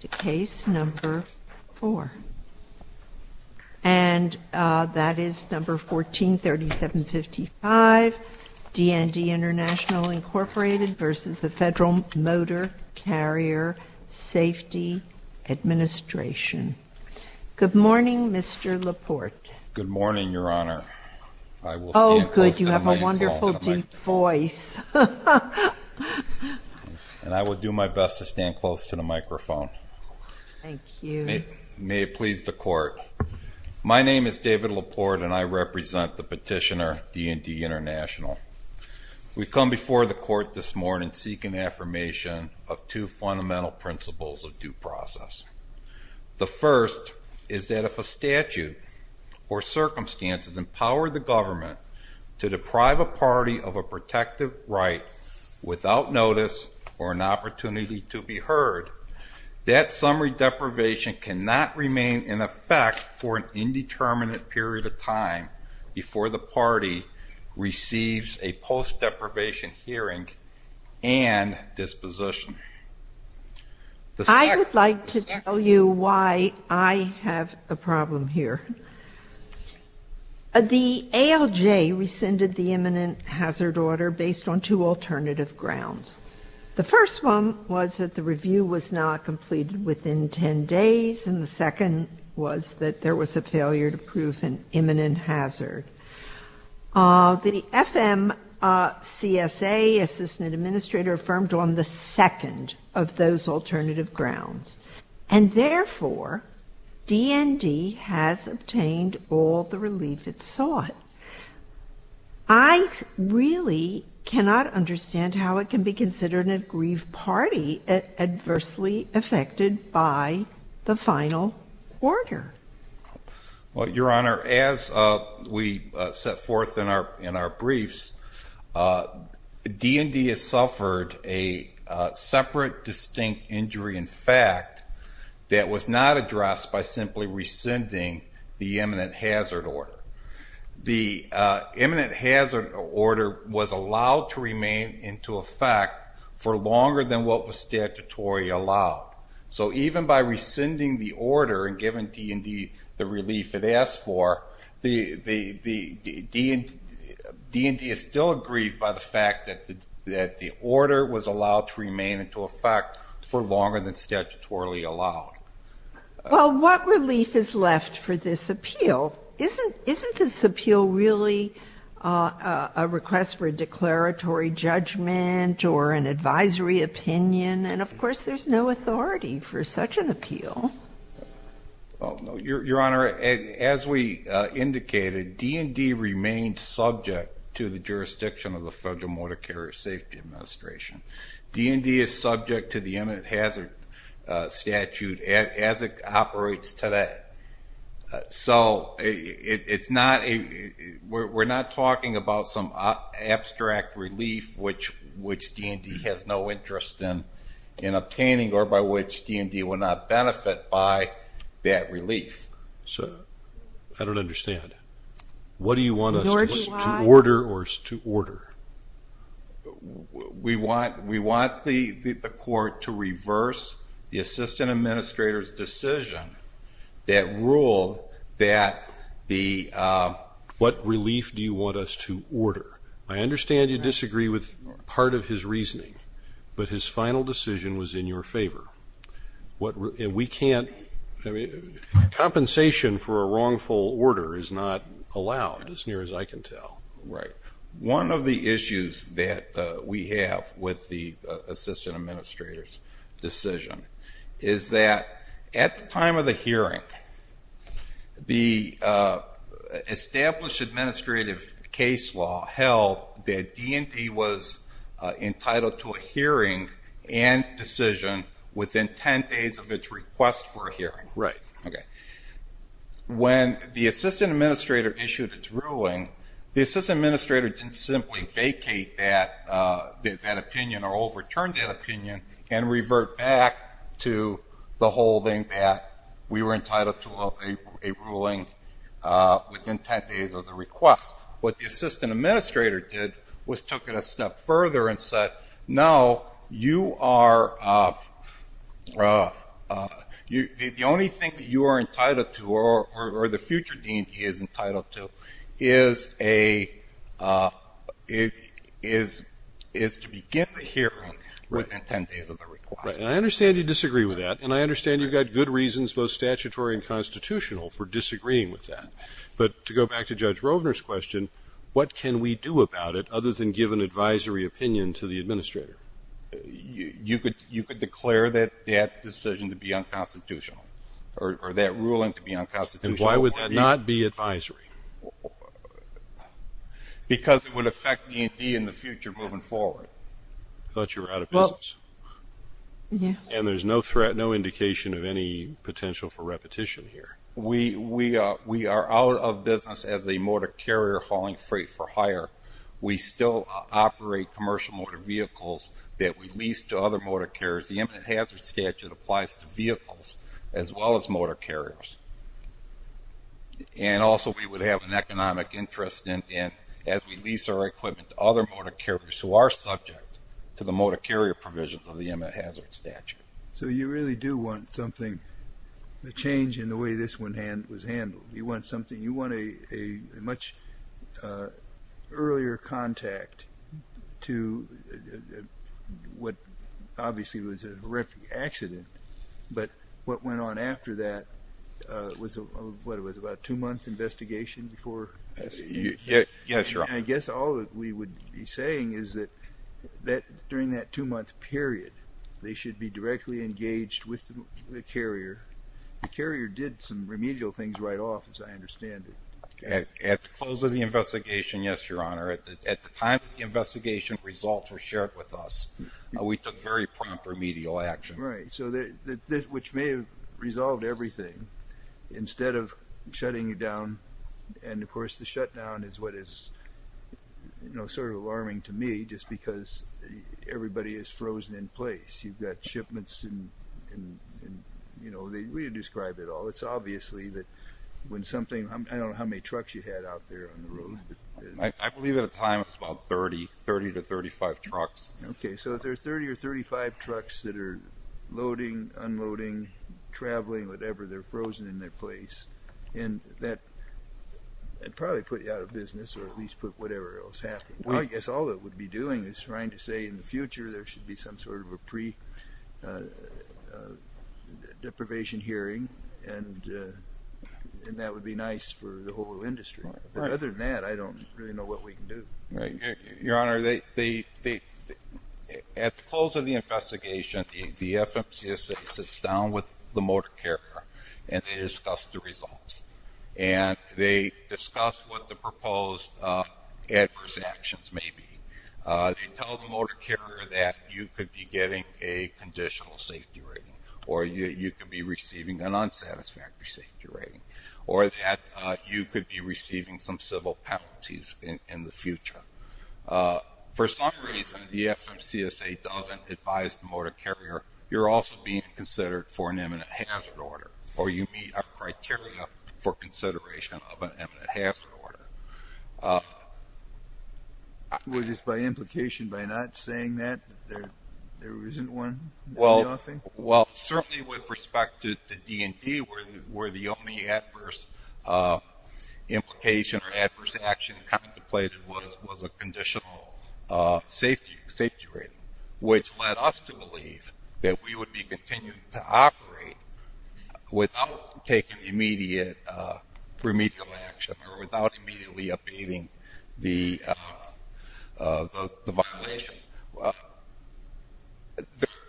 Good morning, Mr. LaPorte. Good morning, Your Honor. Oh, good, you have a wonderful deep voice. And I will do my best to stand close to the microphone. Thank you. May it please the Court. My name is David LaPorte and I represent the petitioner, D N D International. We've come before the Court this morning seeking affirmation of two fundamental principles of due process. The first is that if a statute or circumstances empower the government to deprive a party of a protective right without notice or an opportunity to be heard, that summary deprivation cannot remain in effect for an indeterminate period of time before the party receives a post-deprivation hearing and disposition. I would like to tell you I have a problem here. The ALJ rescinded the imminent hazard order based on two alternative grounds. The first one was that the review was not completed within 10 days and the second was that there was a failure to prove an imminent hazard. The FMCSA, Assistant Administrator, affirmed on the second of those alternative grounds. And therefore, D N D has obtained all the relief it sought. I really cannot understand how it can be considered an aggrieved party adversely affected by the final order. Well, Your Honor, as we set forth in our briefs, D N D has suffered a separate distinct injury in fact that was not addressed by simply rescinding the imminent hazard order. The imminent hazard order was allowed to remain into effect for longer than what was statutorily allowed. So even by rescinding the order and giving D N D the relief it asked for, D N D is still aggrieved by the fact that the order was allowed to remain into effect for longer than statutorily allowed. Well, what relief is left for this appeal? Isn't this appeal really a request for a declaratory judgment or an advisory opinion? And of course, there's no authority for such an appeal. Your Honor, as we indicated, D N D remains subject to the jurisdiction of the Federal Motor Carrier Safety Administration. D N D is subject to the imminent hazard statute as it operates today. So we're not talking about some abstract relief which D N D has no interest in obtaining or by which D N D would not benefit by that relief. I don't understand. What do you want us to order? We want the court to reverse the assistant administrator's decision that ruled that the, what relief do you want us to order? I understand you disagree with part of his reasoning, but his final decision was in your favor. And we can't, compensation for a wrongful order is not allowed as near as I can tell. Right. One of the issues that we have with the assistant administrator's decision is that at the time of the hearing, the established administrative case law held that D N D was entitled to a hearing and decision within 10 days of its request for a hearing. Right. Okay. When the assistant administrator issued its ruling, the assistant administrator didn't simply vacate that opinion or overturned that opinion and revert back to the holding that we were entitled to a ruling within 10 days of the request. What the assistant administrator did was took it a step further and said, no, you are, uh, uh, you, the only thing that you are entitled to or the future D N D is entitled to is a, uh, is, is to begin the hearing within 10 days of the request. Right. And I understand you disagree with that. And I understand you've got good reasons, both statutory and constitutional for disagreeing with that. But to go back to judge Rovner's question, what can we do other than give an advisory opinion to the administrator? You could, you could declare that that decision to be unconstitutional or that ruling to be unconstitutional. And why would that not be advisory? Because it would affect D N D in the future moving forward. I thought you were out of business. And there's no threat, no indication of any potential for repetition here. We, we, uh, we are out of business as a motor carrier hauling freight for hire. We still operate commercial motor vehicles that we leased to other motor carriers. The eminent hazard statute applies to vehicles as well as motor carriers. And also we would have an economic interest in, in, as we lease our equipment to other motor carriers who are subject to the motor carrier provisions of the eminent hazard statute. So you really do want something, the change in the way this one hand was handled. You want something, you want a, a much, uh, earlier contact to what obviously was a horrific accident, but what went on after that, uh, was, uh, what it was about two months investigation before. Yeah, sure. I guess all we would be saying is that, that during that two month period, they should be directly engaged with the carrier. The carrier did some remedial things right off, as I understand it. At the close of the investigation. Yes, your honor. At the, at the time that the investigation results were shared with us, we took very prompt remedial action, right? So that this, which may have resolved everything instead of shutting it down. And of course the shutdown is what is, you know, sort of alarming to me just because everybody is frozen in place. You've got shipments and, and, and, you know, they, we had described it all. It's obviously that when something, I don't know how many trucks you had out there on the road. I believe at a time it was about 30, 30 to 35 trucks. Okay. So if there are 30 or 35 trucks that are loading, unloading, traveling, whatever, they're frozen in their place. And that probably put you out of business or at least put whatever else happened. I guess all that would be doing is trying to say in the future, there should be some sort of a pre deprivation hearing. And, and that would be nice for the whole industry. Other than that, I don't really know what we can do. Right. Your honor, they, they, they, at the close of the investigation, the FMCSA sits down with the motor carrier and they discuss the results and they discuss what the proposed adverse actions may be. They tell the motor carrier that you could be getting a conditional safety rating, or you could be receiving an unsatisfactory safety rating, or that you could be receiving some civil penalties in the future. For some reason, the FMCSA doesn't advise the motor carrier, you're also being considered for an imminent hazard order, or you meet our criteria for consideration of an imminent hazard order. Was this by implication, by not saying that there, there isn't one? Well, well, certainly with respect to the D&D where, where the only adverse implication or adverse action contemplated was, was a conditional safety, safety rating, which led us to believe that we would be continuing to operate without taking immediate, remedial action or without immediately abating the, the violation.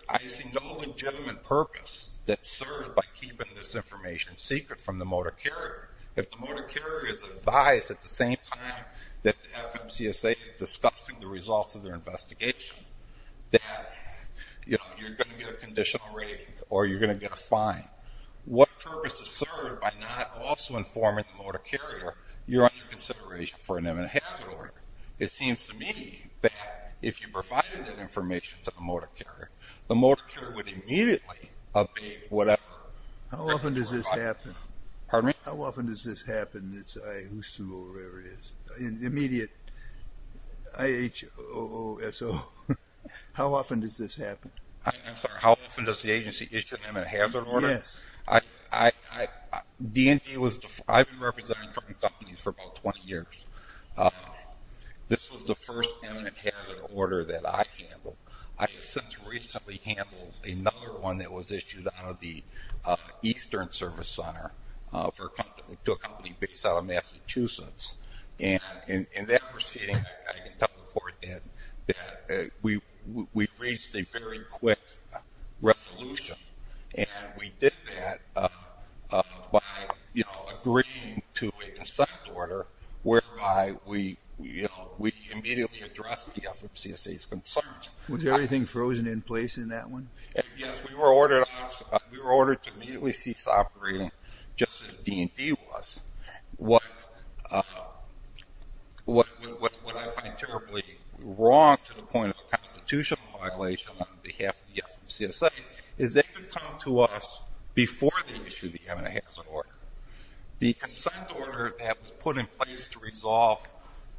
I see no legitimate purpose that's served by keeping this information secret from the motor carrier. If the motor carrier is advised at the same time that the FMCSA is discussing the results of their investigation, that, you know, you're going to get a conditional rating, or you're going to get a fine, what purpose is served by not also informing the motor carrier you're under consideration for an imminent hazard order? It seems to me that if you provided that information to the motor carrier, the motor carrier would immediately abate whatever. How often does this happen? I'm sorry, how often does the agency issue an imminent hazard order? Yes. I, I, I, D&D was, I've been representing companies for about 20 years. This was the first imminent hazard order that I handled. I have since recently handled another one that was issued out of the Eastern Service Center for a company, to a company based out of that. We, we reached a very quick resolution and we did that by, you know, agreeing to a consent order whereby we, you know, we immediately addressed the FMCSA's concerns. Was everything frozen in place in that one? Yes, we were ordered, we were ordered to immediately cease operating just as D&D was. What, what, what, what I find terribly wrong to the point of a constitutional violation on behalf of the FMCSA is they could come to us before they issued the imminent hazard order. The consent order that was put in place to resolve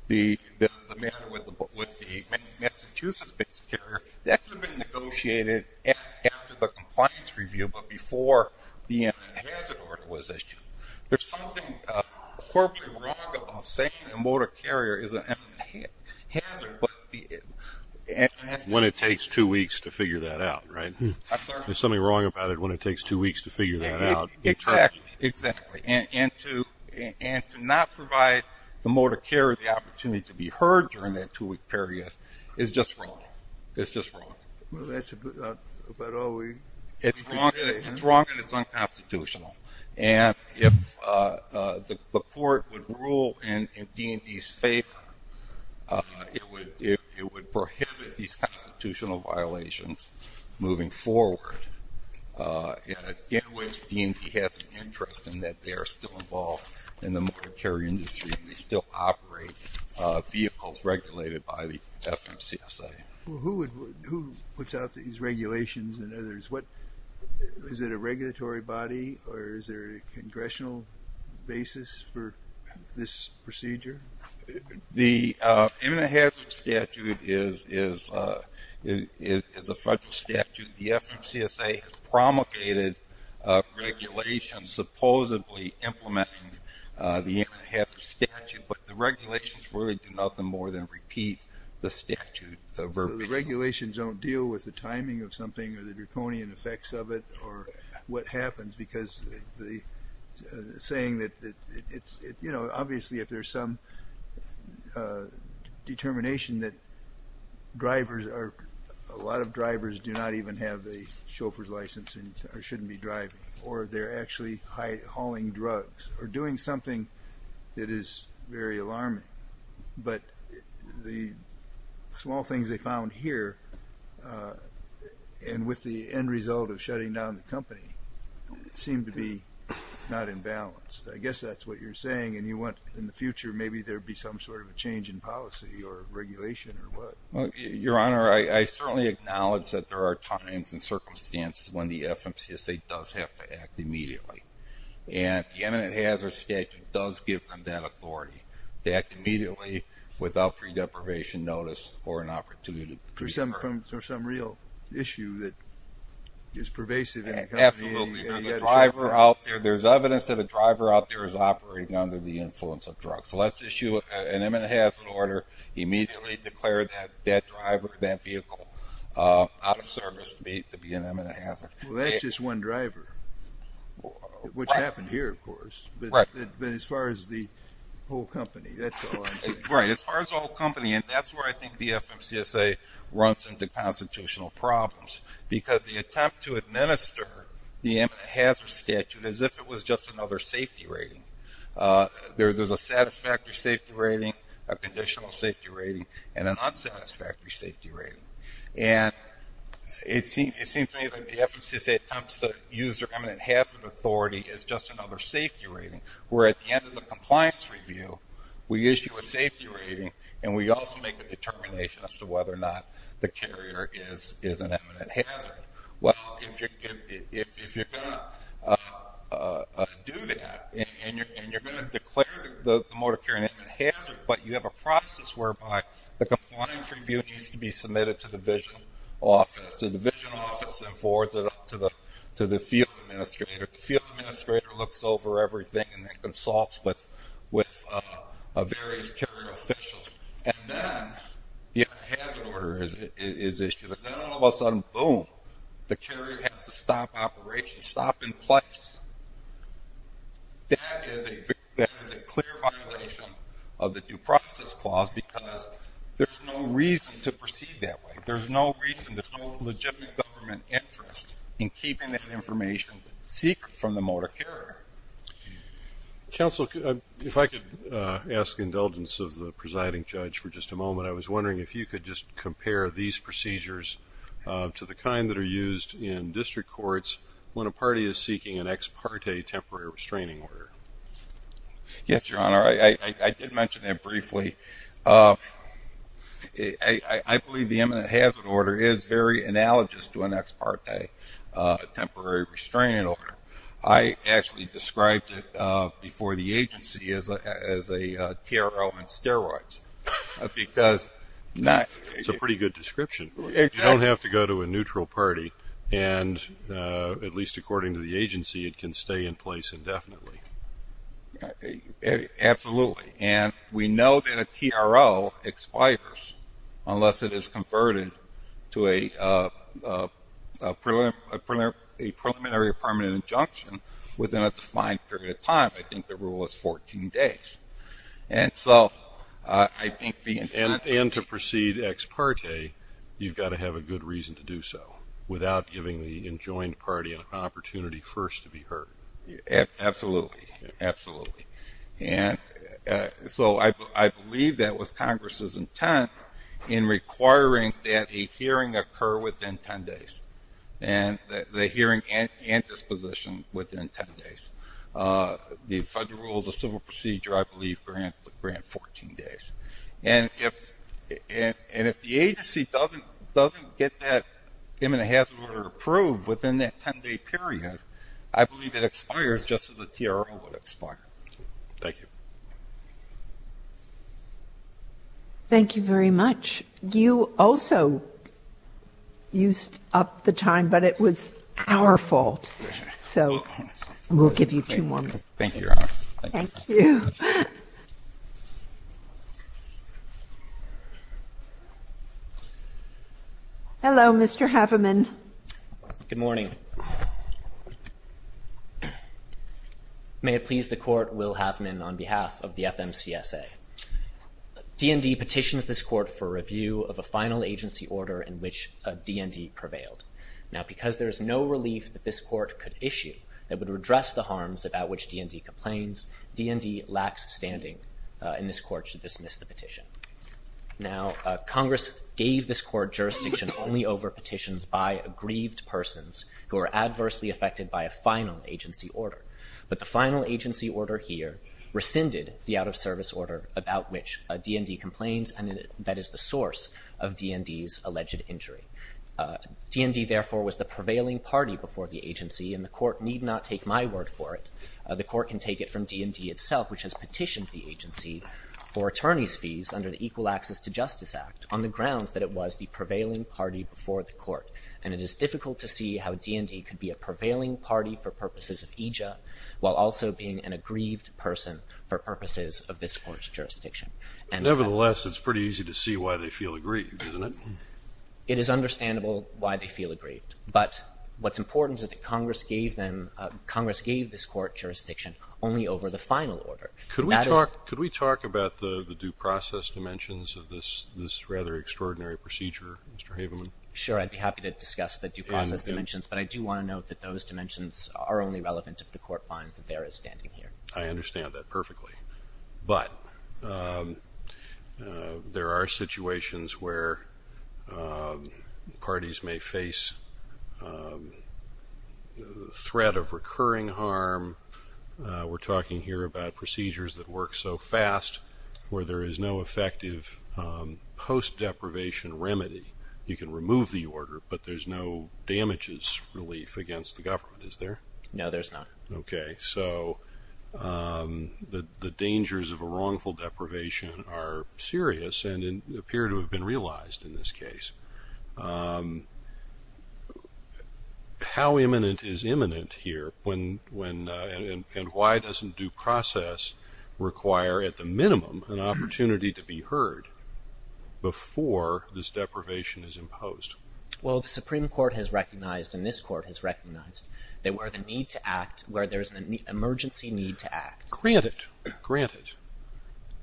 the, the matter with the Massachusetts carrier, that could have been negotiated after the compliance review, but before the imminent hazard order was issued. There's something, uh, corporately wrong about saying the motor carrier is an imminent hazard, but the, it, it, when it takes two weeks to figure that out, right? I'm sorry? There's something wrong about it when it takes two weeks to figure that out. Exactly, exactly. And, and to, and to not provide the motor carrier the opportunity to be heard during that two week period is just wrong. It's just wrong. Well, that's about all we can say. It's wrong, it's wrong, and it's unconstitutional. And if, uh, uh, the, the court would rule in, in D&D's favor, uh, it would, it, it would prohibit these constitutional violations moving forward, uh, in which D&D has an interest in that they are still involved in the motor carrier industry, and they still operate, uh, vehicles regulated by the FMCSA. Who would, who puts out these regulations and others? What, is it a regulatory body, or is there a congressional basis for this procedure? The, uh, imminent hazard statute is, is, uh, is, is a federal statute. The FMCSA has promulgated, uh, regulations supposedly implementing, uh, the imminent hazard statute, but the regulations really do nothing more than repeat the statute, the verbatim. The regulations don't deal with the timing of something, or the draconian effects of it, or what happens, because the saying that it's, you know, obviously if there's some, uh, determination that drivers are, a lot of drivers do not even have a chauffeur's license, or shouldn't be driving, or they're actually high, hauling drugs, or doing something that is very alarming, but the small things they found here, uh, and with the end result of shutting down the company, seem to be not in balance. I guess that's what you're saying, and you want, in the future, maybe there'd be some sort of a change in policy, or regulation, or what? Well, Your Honor, I, I certainly acknowledge that there are times and circumstances when the FMCSA does have to act immediately, and the imminent hazard statute does give them that authority to act immediately without pre-deprivation notice, or an opportunity. For some, for some real issue that is pervasive. Absolutely, there's a driver out there, there's evidence that a driver out there is operating under the influence of drugs, so let's issue an imminent hazard order, immediately declare that, that driver, that vehicle, uh, out of service to be an imminent hazard. Well, that's just one driver, which happened here, of course, but as far as the whole company, that's all I'm saying. Right, as far as the whole company, and that's where I think the FMCSA runs into constitutional problems, because the attempt to administer the imminent hazard statute as if it was just another safety rating, uh, there's a satisfactory safety rating, a conditional safety rating, and an unsatisfactory safety rating, and it seems, it seems to me that the FMCSA attempts to use their imminent hazard authority as just another safety rating, where at the end of the compliance review, we issue a safety rating, and we also make a determination as to whether or not the carrier is, is an imminent hazard. Well, if you're, if, if you're going to, uh, uh, uh, do that, and you're, and you're going to declare the, the motor carrier an imminent hazard, but you have a process whereby the compliance review needs to be submitted to the division office. The division office then forwards it up to the, to the field administrator. The field administrator looks over everything and then consults with, with, uh, various carrier officials, and then the hazard order is, is issued, and then all of a sudden, boom, the carrier has to stop operation, stop in place. That is a, that is a clear violation of the due process clause, because there's no reason to proceed that way. There's no reason, there's no legitimate government interest in keeping that information secret from the motor carrier. Counsel, if I could, uh, ask indulgence of the presiding judge for just a moment. I was wondering if you could just compare these procedures, uh, to the kind that are used in district courts when a party is seeking an ex parte temporary restraining order. Yes, Your Honor. I, I, I did mention that briefly. Uh, I, I, I believe the imminent hazard order is very analogous to an ex parte, uh, temporary restraining order. I actually described it, uh, before the agency as a, as a, uh, TRO on steroids, because not... It's a pretty good description. You don't have to go to a neutral party, and, uh, at least according to the agency, it can stay in place indefinitely. Uh, uh, absolutely. And we know that a TRO expires unless it is converted to a, uh, uh, preliminary, a preliminary, a preliminary permanent injunction within a defined period of time. I think the rule is 14 days. And so, uh, I think the intent... And, and to proceed ex parte, you've got to have a good reason to do so without giving the enjoined party an opportunity first to be absolutely, absolutely. And, uh, so I, I believe that was Congress's intent in requiring that a hearing occur within 10 days. And the, the hearing and, and disposition within 10 days. Uh, the federal rules of civil procedure, I believe grant, grant 14 days. And if, and, and if the agency doesn't, doesn't get that imminent hazard order approved within that 10 day period, I believe it expires just as a TRO would expire. Thank you. Thank you very much. You also used up the time, but it was our fault. So we'll give you two more minutes. Thank you, Your Honor. Thank you. Hello, Mr. Haveman. Good morning. May it please the court, Will Haveman on behalf of the FMCSA. DND petitions this court for review of a final agency order in which a DND prevailed. Now, because there is no relief that this court could issue that would redress the harms about which DND complains, DND lacks standing in this court to dismiss the petition. Now, uh, Congress gave this court jurisdiction only over petitions by aggrieved persons who are adversely affected by a final agency order. But the final agency order here rescinded the out of service order about which a DND complains and that is the source of DND's alleged injury. Uh, DND therefore was the DND itself, which has petitioned the agency for attorney's fees under the Equal Access to Justice Act on the grounds that it was the prevailing party before the court. And it is difficult to see how a DND could be a prevailing party for purposes of EJIA while also being an aggrieved person for purposes of this court's jurisdiction. Nevertheless, it's pretty easy to see why they feel aggrieved, isn't it? It is understandable why they feel aggrieved, but what's important is that Congress gave them, uh, Congress gave this court jurisdiction only over the final order. Could we talk, could we talk about the due process dimensions of this, this rather extraordinary procedure, Mr. Haveman? Sure. I'd be happy to discuss the due process dimensions, but I do want to note that those dimensions are only relevant if the court finds that there is standing here. I understand that perfectly. But, um, uh, there are situations where, um, parties may face, um, threat of recurring harm. Uh, we're talking here about procedures that work so fast where there is no effective, um, post-deprivation remedy. You can remove the order, but there's no damages relief against the government, is there? No, there's not. Okay. So, um, the, the dangers of a wrongful deprivation are serious and appear to have been realized in this case. Um, how imminent is imminent here when, when, uh, and, and why doesn't due process require at the minimum an opportunity to be heard before this deprivation is imposed? Well, the Supreme Court has recognized, and this court has recognized, that where the need to act, where there's an emergency need to act. Granted, granted,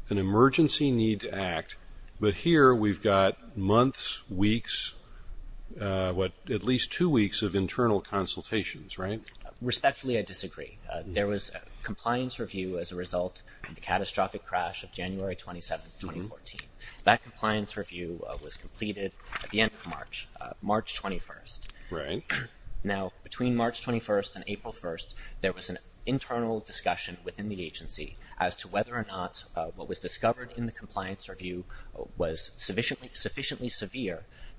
an emergency need to act, but here we've got months, weeks, uh, what, at least two weeks of internal consultations, right? Respectfully, I disagree. There was a compliance review as a result of the catastrophic crash of January 27th, 2014. That compliance review, uh, was completed at the end of March, uh, March 21st. Right. Now, between March 21st and April 1st, there was an internal discussion within the agency as to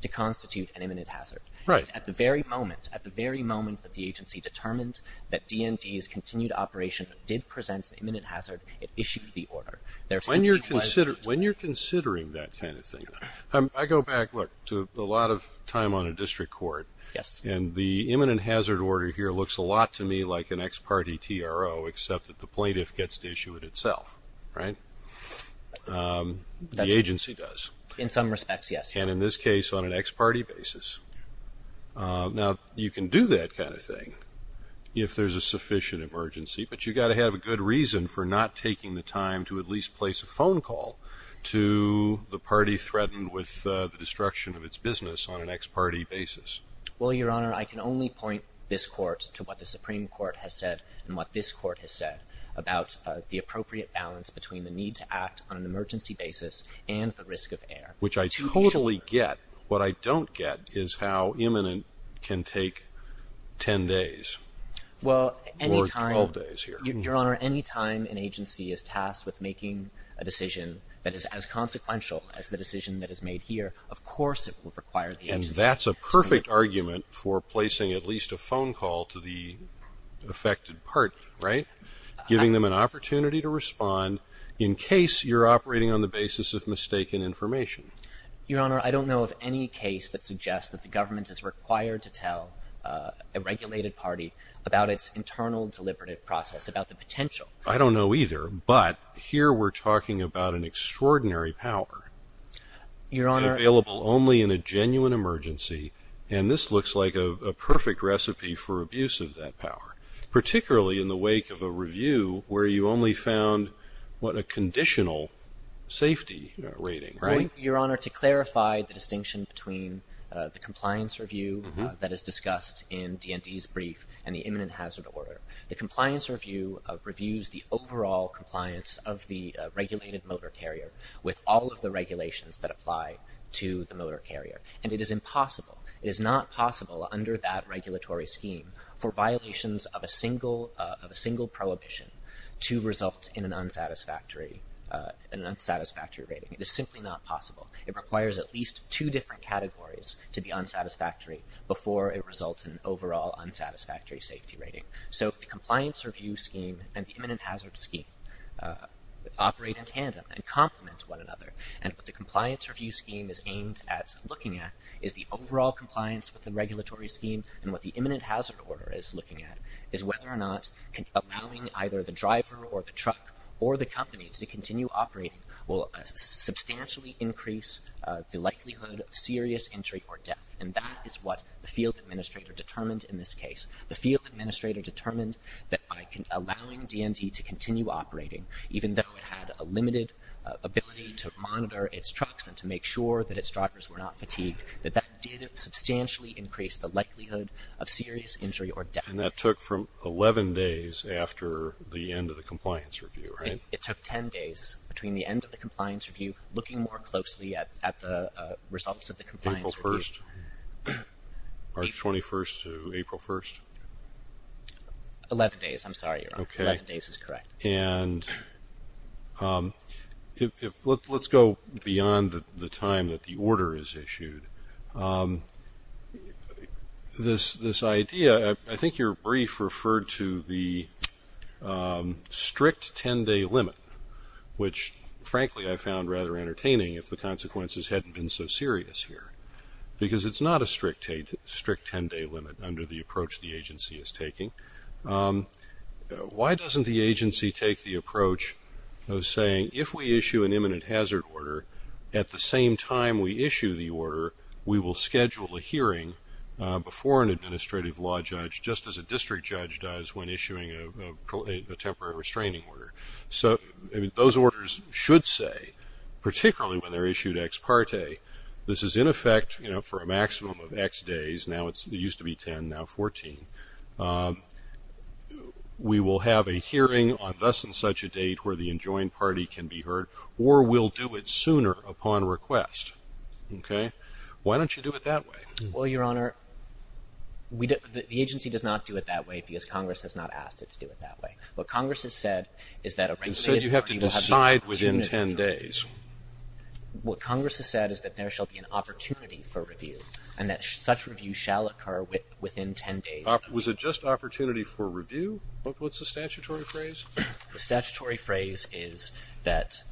to constitute an imminent hazard. Right. At the very moment, at the very moment that the agency determined that D&D's continued operation did present an imminent hazard, it issued the order. There simply wasn't. When you're consider, when you're considering that kind of thing, um, I go back, look, to a lot of time on a district court. Yes. And the imminent hazard order here looks a lot to me like an ex parte TRO, except that the plaintiff gets to issue it itself, right? Um, the agency does. In some respects, yes. And in this case, on an ex parte basis. Uh, now, you can do that kind of thing if there's a sufficient emergency, but you got to have a good reason for not taking the time to at least place a phone call to the party threatened with, uh, the destruction of its business on an ex parte basis. Well, Your Honor, I can only point this court to what the Supreme Court has said and what this court has said about, uh, the appropriate balance between the need to act on an emergency basis and the risk of error. Which I totally get. What I don't get is how imminent can take 10 days. Well, anytime. Or 12 days here. Your Honor, anytime an agency is tasked with making a decision that is as consequential as the decision that is made here, of course, it would require the agency. And that's a perfect argument for placing at least a phone call to the affected party, right? Giving them an opportunity to respond in case you're operating on the basis of mistaken information. Your Honor, I don't know of any case that suggests that the government is required to tell, uh, a regulated party about its internal deliberative process, about the potential. I don't know either, but here we're talking about an extraordinary power. Your Honor. Available only in a genuine emergency, and this looks like a perfect recipe for abuse of that power. Particularly in the wake of a review where you only found, what, a conditional safety rating, right? Your Honor, to clarify the distinction between the compliance review that is discussed in DND's brief and the imminent hazard order. The compliance review reviews the overall compliance of the regulated motor carrier with all of the regulations that apply to the of a single, uh, of a single prohibition to result in an unsatisfactory, uh, an unsatisfactory rating. It is simply not possible. It requires at least two different categories to be unsatisfactory before it results in overall unsatisfactory safety rating. So the compliance review scheme and the imminent hazard scheme, uh, operate in tandem and complement one another. And what the compliance review scheme is aimed at looking at is the overall compliance with the regulatory scheme and what the imminent hazard order is looking at is whether or not allowing either the driver or the truck or the companies to continue operating will substantially increase the likelihood of serious injury or death. And that is what the field administrator determined in this case. The field administrator determined that by allowing DND to continue operating, even though it had a limited ability to monitor its trucks and to make sure that its drivers were not fatigued, that that substantially increased the likelihood of serious injury or death. And that took from 11 days after the end of the compliance review, right? It took 10 days between the end of the compliance review, looking more closely at the results of the compliance review. April 1st? March 21st to April 1st? 11 days, I'm sorry. Okay. 11 days is correct. And, um, if, let's go beyond the time that the order is issued, um, this, this idea, I think your brief referred to the, um, strict 10-day limit, which frankly I found rather entertaining if the consequences hadn't been so serious here. Because it's not a strict 10-day limit under the approach the agency is taking. Um, why doesn't the agency take the approach of saying, if we issue an imminent hazard order at the same time we issue the order, we will schedule a hearing before an administrative law judge, just as a district judge does when issuing a temporary restraining order. So, I mean, those orders should say, particularly when they're issued ex parte, this is in effect, you know, for a maximum of x days. Now it's, it used to be 10, now 14. Um, we will have a hearing on thus and such a date where the enjoined party can be heard, or we'll do it sooner upon request. Okay. Why don't you do it that way? Well, your honor, we, the agency does not do it that way because Congress has not asked it to do it that way. What Congress has said is that a regulated party will have the opportunity to do a review. What Congress has said is that there shall be an opportunity for review, and that such review shall occur within 10 days. Was it just opportunity for review? What's the statutory phrase? The statutory phrase is that,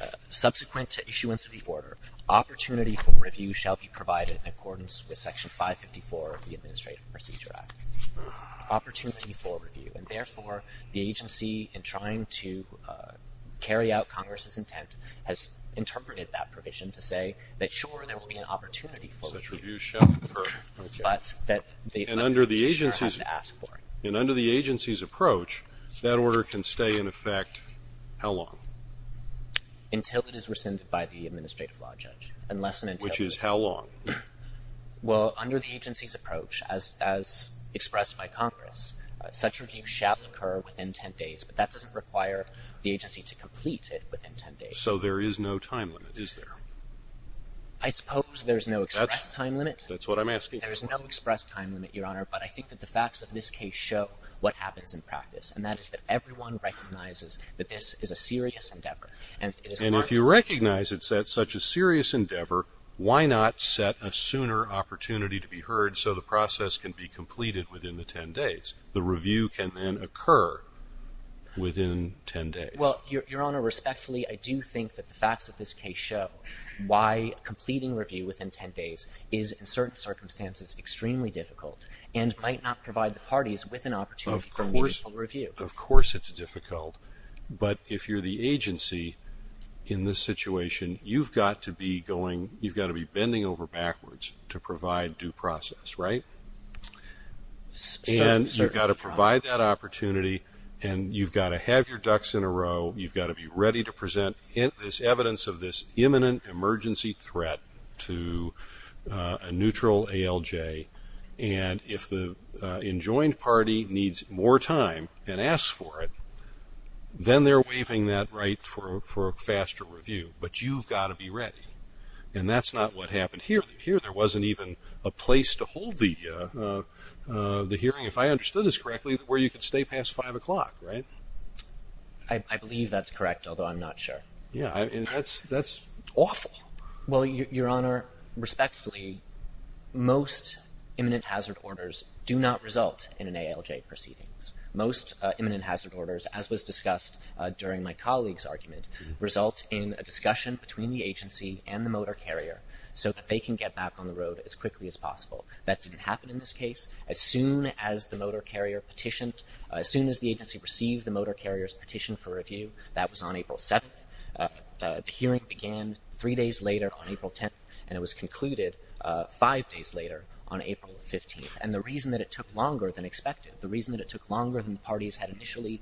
uh, subsequent to issuance of the order, opportunity for review shall be provided in accordance with section 554 of the Administrative Procedure Act. Opportunity for review. And therefore, the agency, in trying to, uh, carry out Congress's intent, has interpreted that provision to say that, sure, there will be an opportunity for review. Such review shall occur. But that, and under the agency's, and under the agency's approach, that order can stay in effect how long? Until it is rescinded by the Administrative Law Judge. Unless and until, which is how long? Well, under the agency's approach, as, as expressed by Congress, such review shall occur within 10 days, but that doesn't require the agency to complete it within 10 days. So there is no time limit, is there? I suppose there's no express time limit. That's what I'm asking. There's no express time limit, Your Honor, but I think that the facts of this case show what happens in practice, and that is that everyone recognizes that this is a serious endeavor. And if you recognize it's such a serious endeavor, why not set a sooner opportunity to be heard so the process can be completed within the 10 days? The review can then occur within 10 days. Well, Your Honor, respectfully, I do think that the facts of this case show why completing review within 10 days is, in certain circumstances, extremely difficult and might not provide the parties with an opportunity for meaningful review. Of course it's difficult, but if you're the agency in this situation, you've got to be going, you've got to be bending over backwards to provide due process, right? And you've got to provide that opportunity, and you've got to have your ducks in a row, you've got to be ready to present this evidence of this imminent emergency threat to a neutral ALJ, and if the enjoined party needs more time and asks for it, then they're waiving that right for a faster review. But you've got to be ready, and that's not what happened here. Here there wasn't even a place to hold the hearing, if I understood this correctly, where you could stay past five o'clock, right? I believe that's correct, although I'm not sure. Yeah, that's awful. Well, Your Honor, respectfully, most imminent hazard orders do not result in an ALJ proceedings. Most imminent hazard orders, as was discussed during my colleague's argument, result in a discussion between the agency and the motor carrier so that they can get back on the road as quickly as possible. That didn't happen as the motor carrier petitioned. As soon as the agency received the motor carrier's petition for review, that was on April 7th. The hearing began three days later on April 10th, and it was concluded five days later on April 15th. And the reason that it took longer than expected, the reason that it took longer than the parties had initially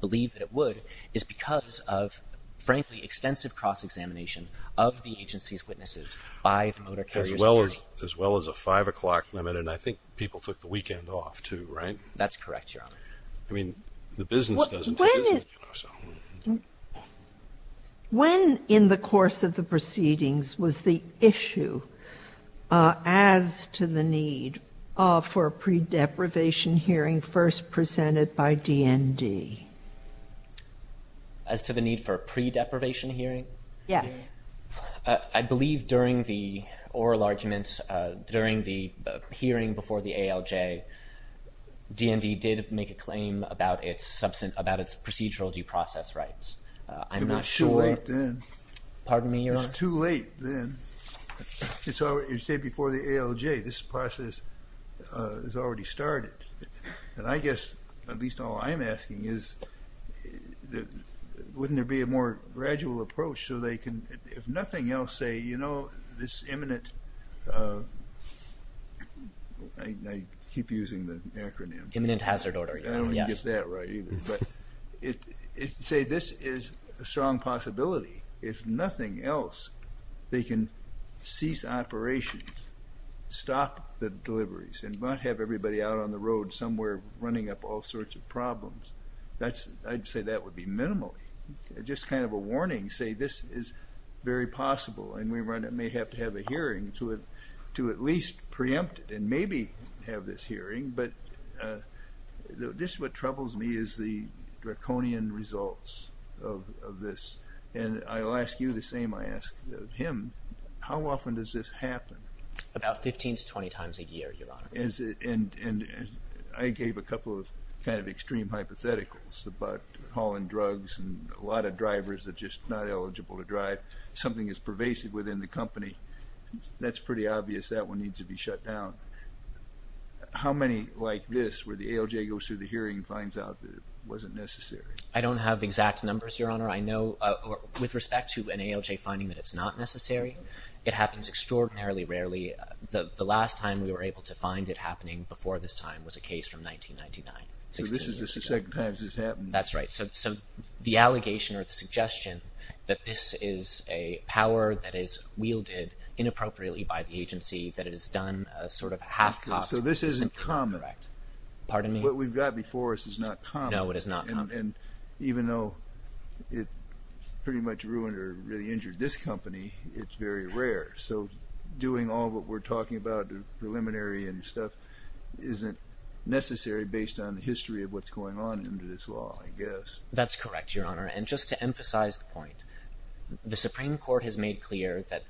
believed that it would, is because of, frankly, extensive cross-examination of the agency's witnesses by the motor carrier. As well as a five o'clock limit, and I think people took the weekend off, too, right? That's correct, Your Honor. I mean, the business doesn't... When in the course of the proceedings was the issue as to the need for a pre-deprivation hearing first presented by DND? As to the need for a pre-deprivation hearing? Yes. I believe during the hearing before the ALJ, DND did make a claim about its procedural due process rights. I'm not sure... It was too late then. Pardon me, Your Honor? It was too late then. You say before the ALJ, this process has already started. And I guess, at least all I'm asking is, wouldn't there be a more gradual approach so they can, if nothing else, say, you know, this imminent... I keep using the acronym. Imminent hazard order. I don't get that right either. But say this is a strong possibility, if nothing else, they can cease operations, stop the deliveries, and not have everybody out on the road somewhere running up all sorts of problems. I'd say that would be minimal. Just kind of a warning, say this is very possible and we may have to have a hearing to at least preempt it and maybe have this hearing. But this is what troubles me, is the draconian results of this. And I'll ask you the same I ask him. How often does this happen? About 15 to 20 times a year, Your Honor. Is it, and I gave a couple of kind of extreme hypotheticals about hauling drugs and a lot of people are not eligible to drive. Something is pervasive within the company. That's pretty obvious, that one needs to be shut down. How many like this, where the ALJ goes through the hearing and finds out that it wasn't necessary? I don't have exact numbers, Your Honor. I know, with respect to an ALJ finding that it's not necessary, it happens extraordinarily rarely. The last time we were able to find it happening before this time was a case from 1999. So this is the second time this has happened? That's right. So the allegation or the suggestion that this is a power that is wielded inappropriately by the agency, that it is done sort of half-cocked. So this isn't common. Pardon me? What we've got before us is not common. No, it is not common. And even though it pretty much ruined or really injured this company, it's very rare. So doing all what we're talking about, the preliminary and stuff, isn't necessary based on the history of what's going on under this law, I guess. That's correct, Your Honor. And just to emphasize the point, the Supreme Court has made clear that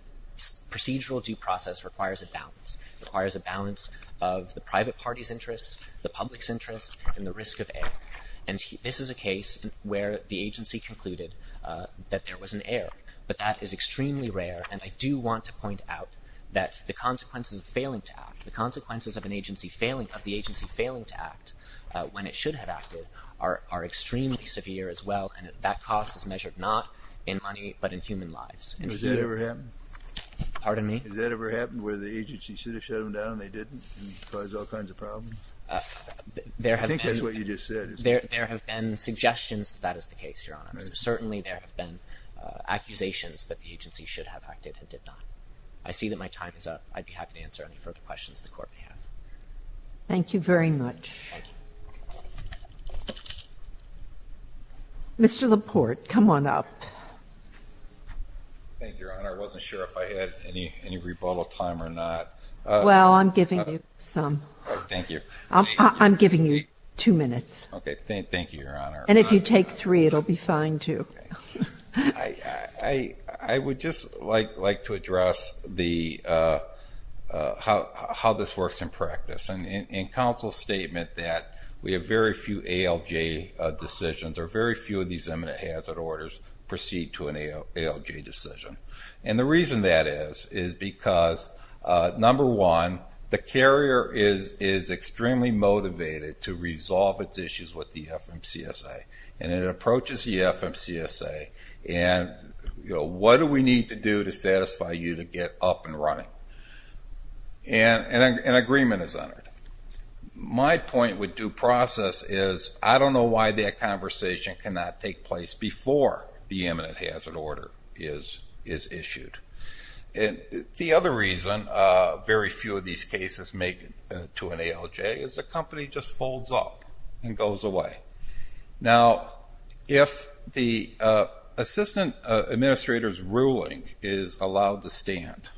procedural due process requires a balance. It requires a balance of the private party's interests, the public's interest, and the risk of error. And this is a case where the agency concluded that there was an error. But that is extremely rare, and I do want to point out that the consequences of failing to act, the agency failing to act when it should have acted, are extremely severe as well. And that cost is measured not in money, but in human lives. Has that ever happened? Pardon me? Has that ever happened where the agency should have shut them down and they didn't, and caused all kinds of problems? I think that's what you just said. There have been suggestions that that is the case, Your Honor. Certainly there have been accusations that the agency should have acted and did not. I see that time is up. I'd be happy to answer any further questions the Court may have. Thank you very much. Mr. LaPorte, come on up. Thank you, Your Honor. I wasn't sure if I had any rebuttal time or not. Well, I'm giving you some. Thank you. I'm giving you two minutes. Okay. Thank you, Your Honor. And if you take three, it'll be fine too. I would just like to address how this works in practice. In counsel's statement that we have very few ALJ decisions, or very few of these imminent hazard orders proceed to an ALJ decision. And the reason that is, is because, number one, the carrier is extremely motivated to resolve its issues with the FMCSA. And it approaches the FMCSA and, you know, what do we need to do to satisfy you to get up and running? And an agreement is entered. My point with due process is I don't know why that conversation cannot take place before the imminent hazard order is issued. And the other reason very few of these cases make it to an ALJ is the company just folds up. And goes away. Now, if the assistant administrator's ruling is allowed to stand,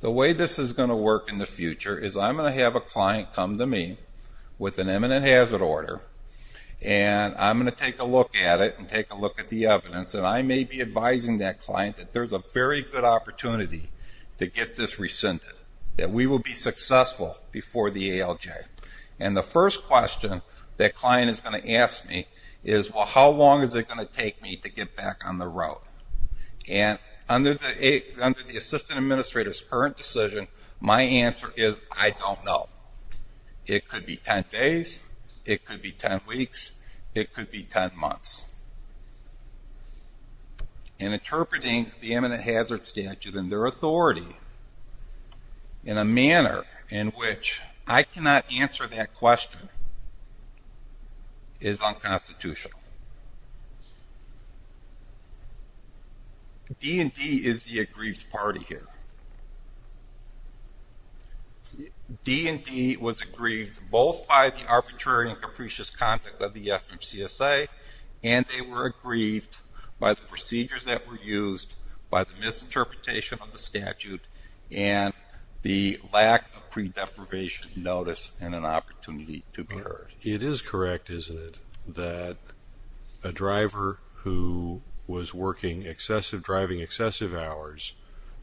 the way this is going to work in the future is I'm going to have a client come to me with an imminent hazard order. And I'm going to take a look at it and take a look at the evidence. And I may be advising that client that there's a very good opportunity to get this rescinded. That we will be successful before the ALJ. And the first question that client is going to ask me is, well, how long is it going to take me to get back on the road? And under the assistant administrator's current decision, my answer is, I don't know. It could be 10 days. It could be 10 weeks. It could be 10 months. In interpreting the imminent hazard statute and their authority in a manner in which I cannot answer that question is unconstitutional. D&D is the aggrieved party here. D&D was aggrieved both by the arbitrary and capricious conduct of the FMCSA. And they were aggrieved by the procedures that were used, by the misinterpretation of the statute, and the lack of pre-deprivation notice and an opportunity to be heard. It is correct, isn't it, that a driver who was driving excessive hours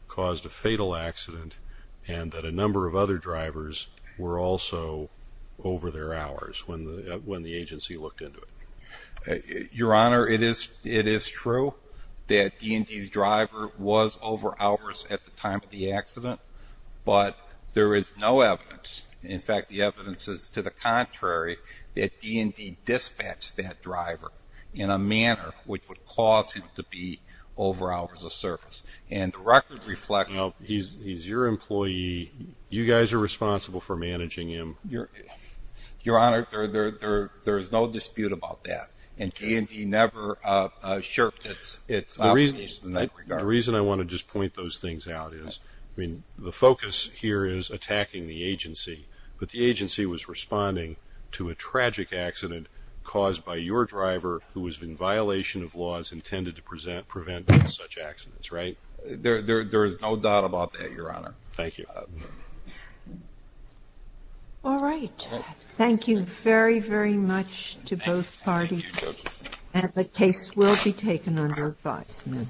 caused a fatal accident and that a number of other drivers were also over their hours when the agency looked into it? Your Honor, it is true that D&D's driver was over hours at the time of the accident, but there is no evidence. In fact, the evidence is to the contrary, that D&D dispatched that driver in a manner which would cause him to be over hours of service. And the record reflects... Now, he's your employee. You guys are responsible for managing him. Your Honor, there is no dispute about that, and D&D never shirked its obligations in that regard. The reason I want to just point those things out is, I mean, the focus here is attacking the agency, but the agency was responding to a tragic accident caused by your driver, who was in violation of laws intended to prevent such accidents, right? There is no doubt about that, Your Honor. Thank you. All right. Thank you very, very much to both parties, and the case will be taken under advisement.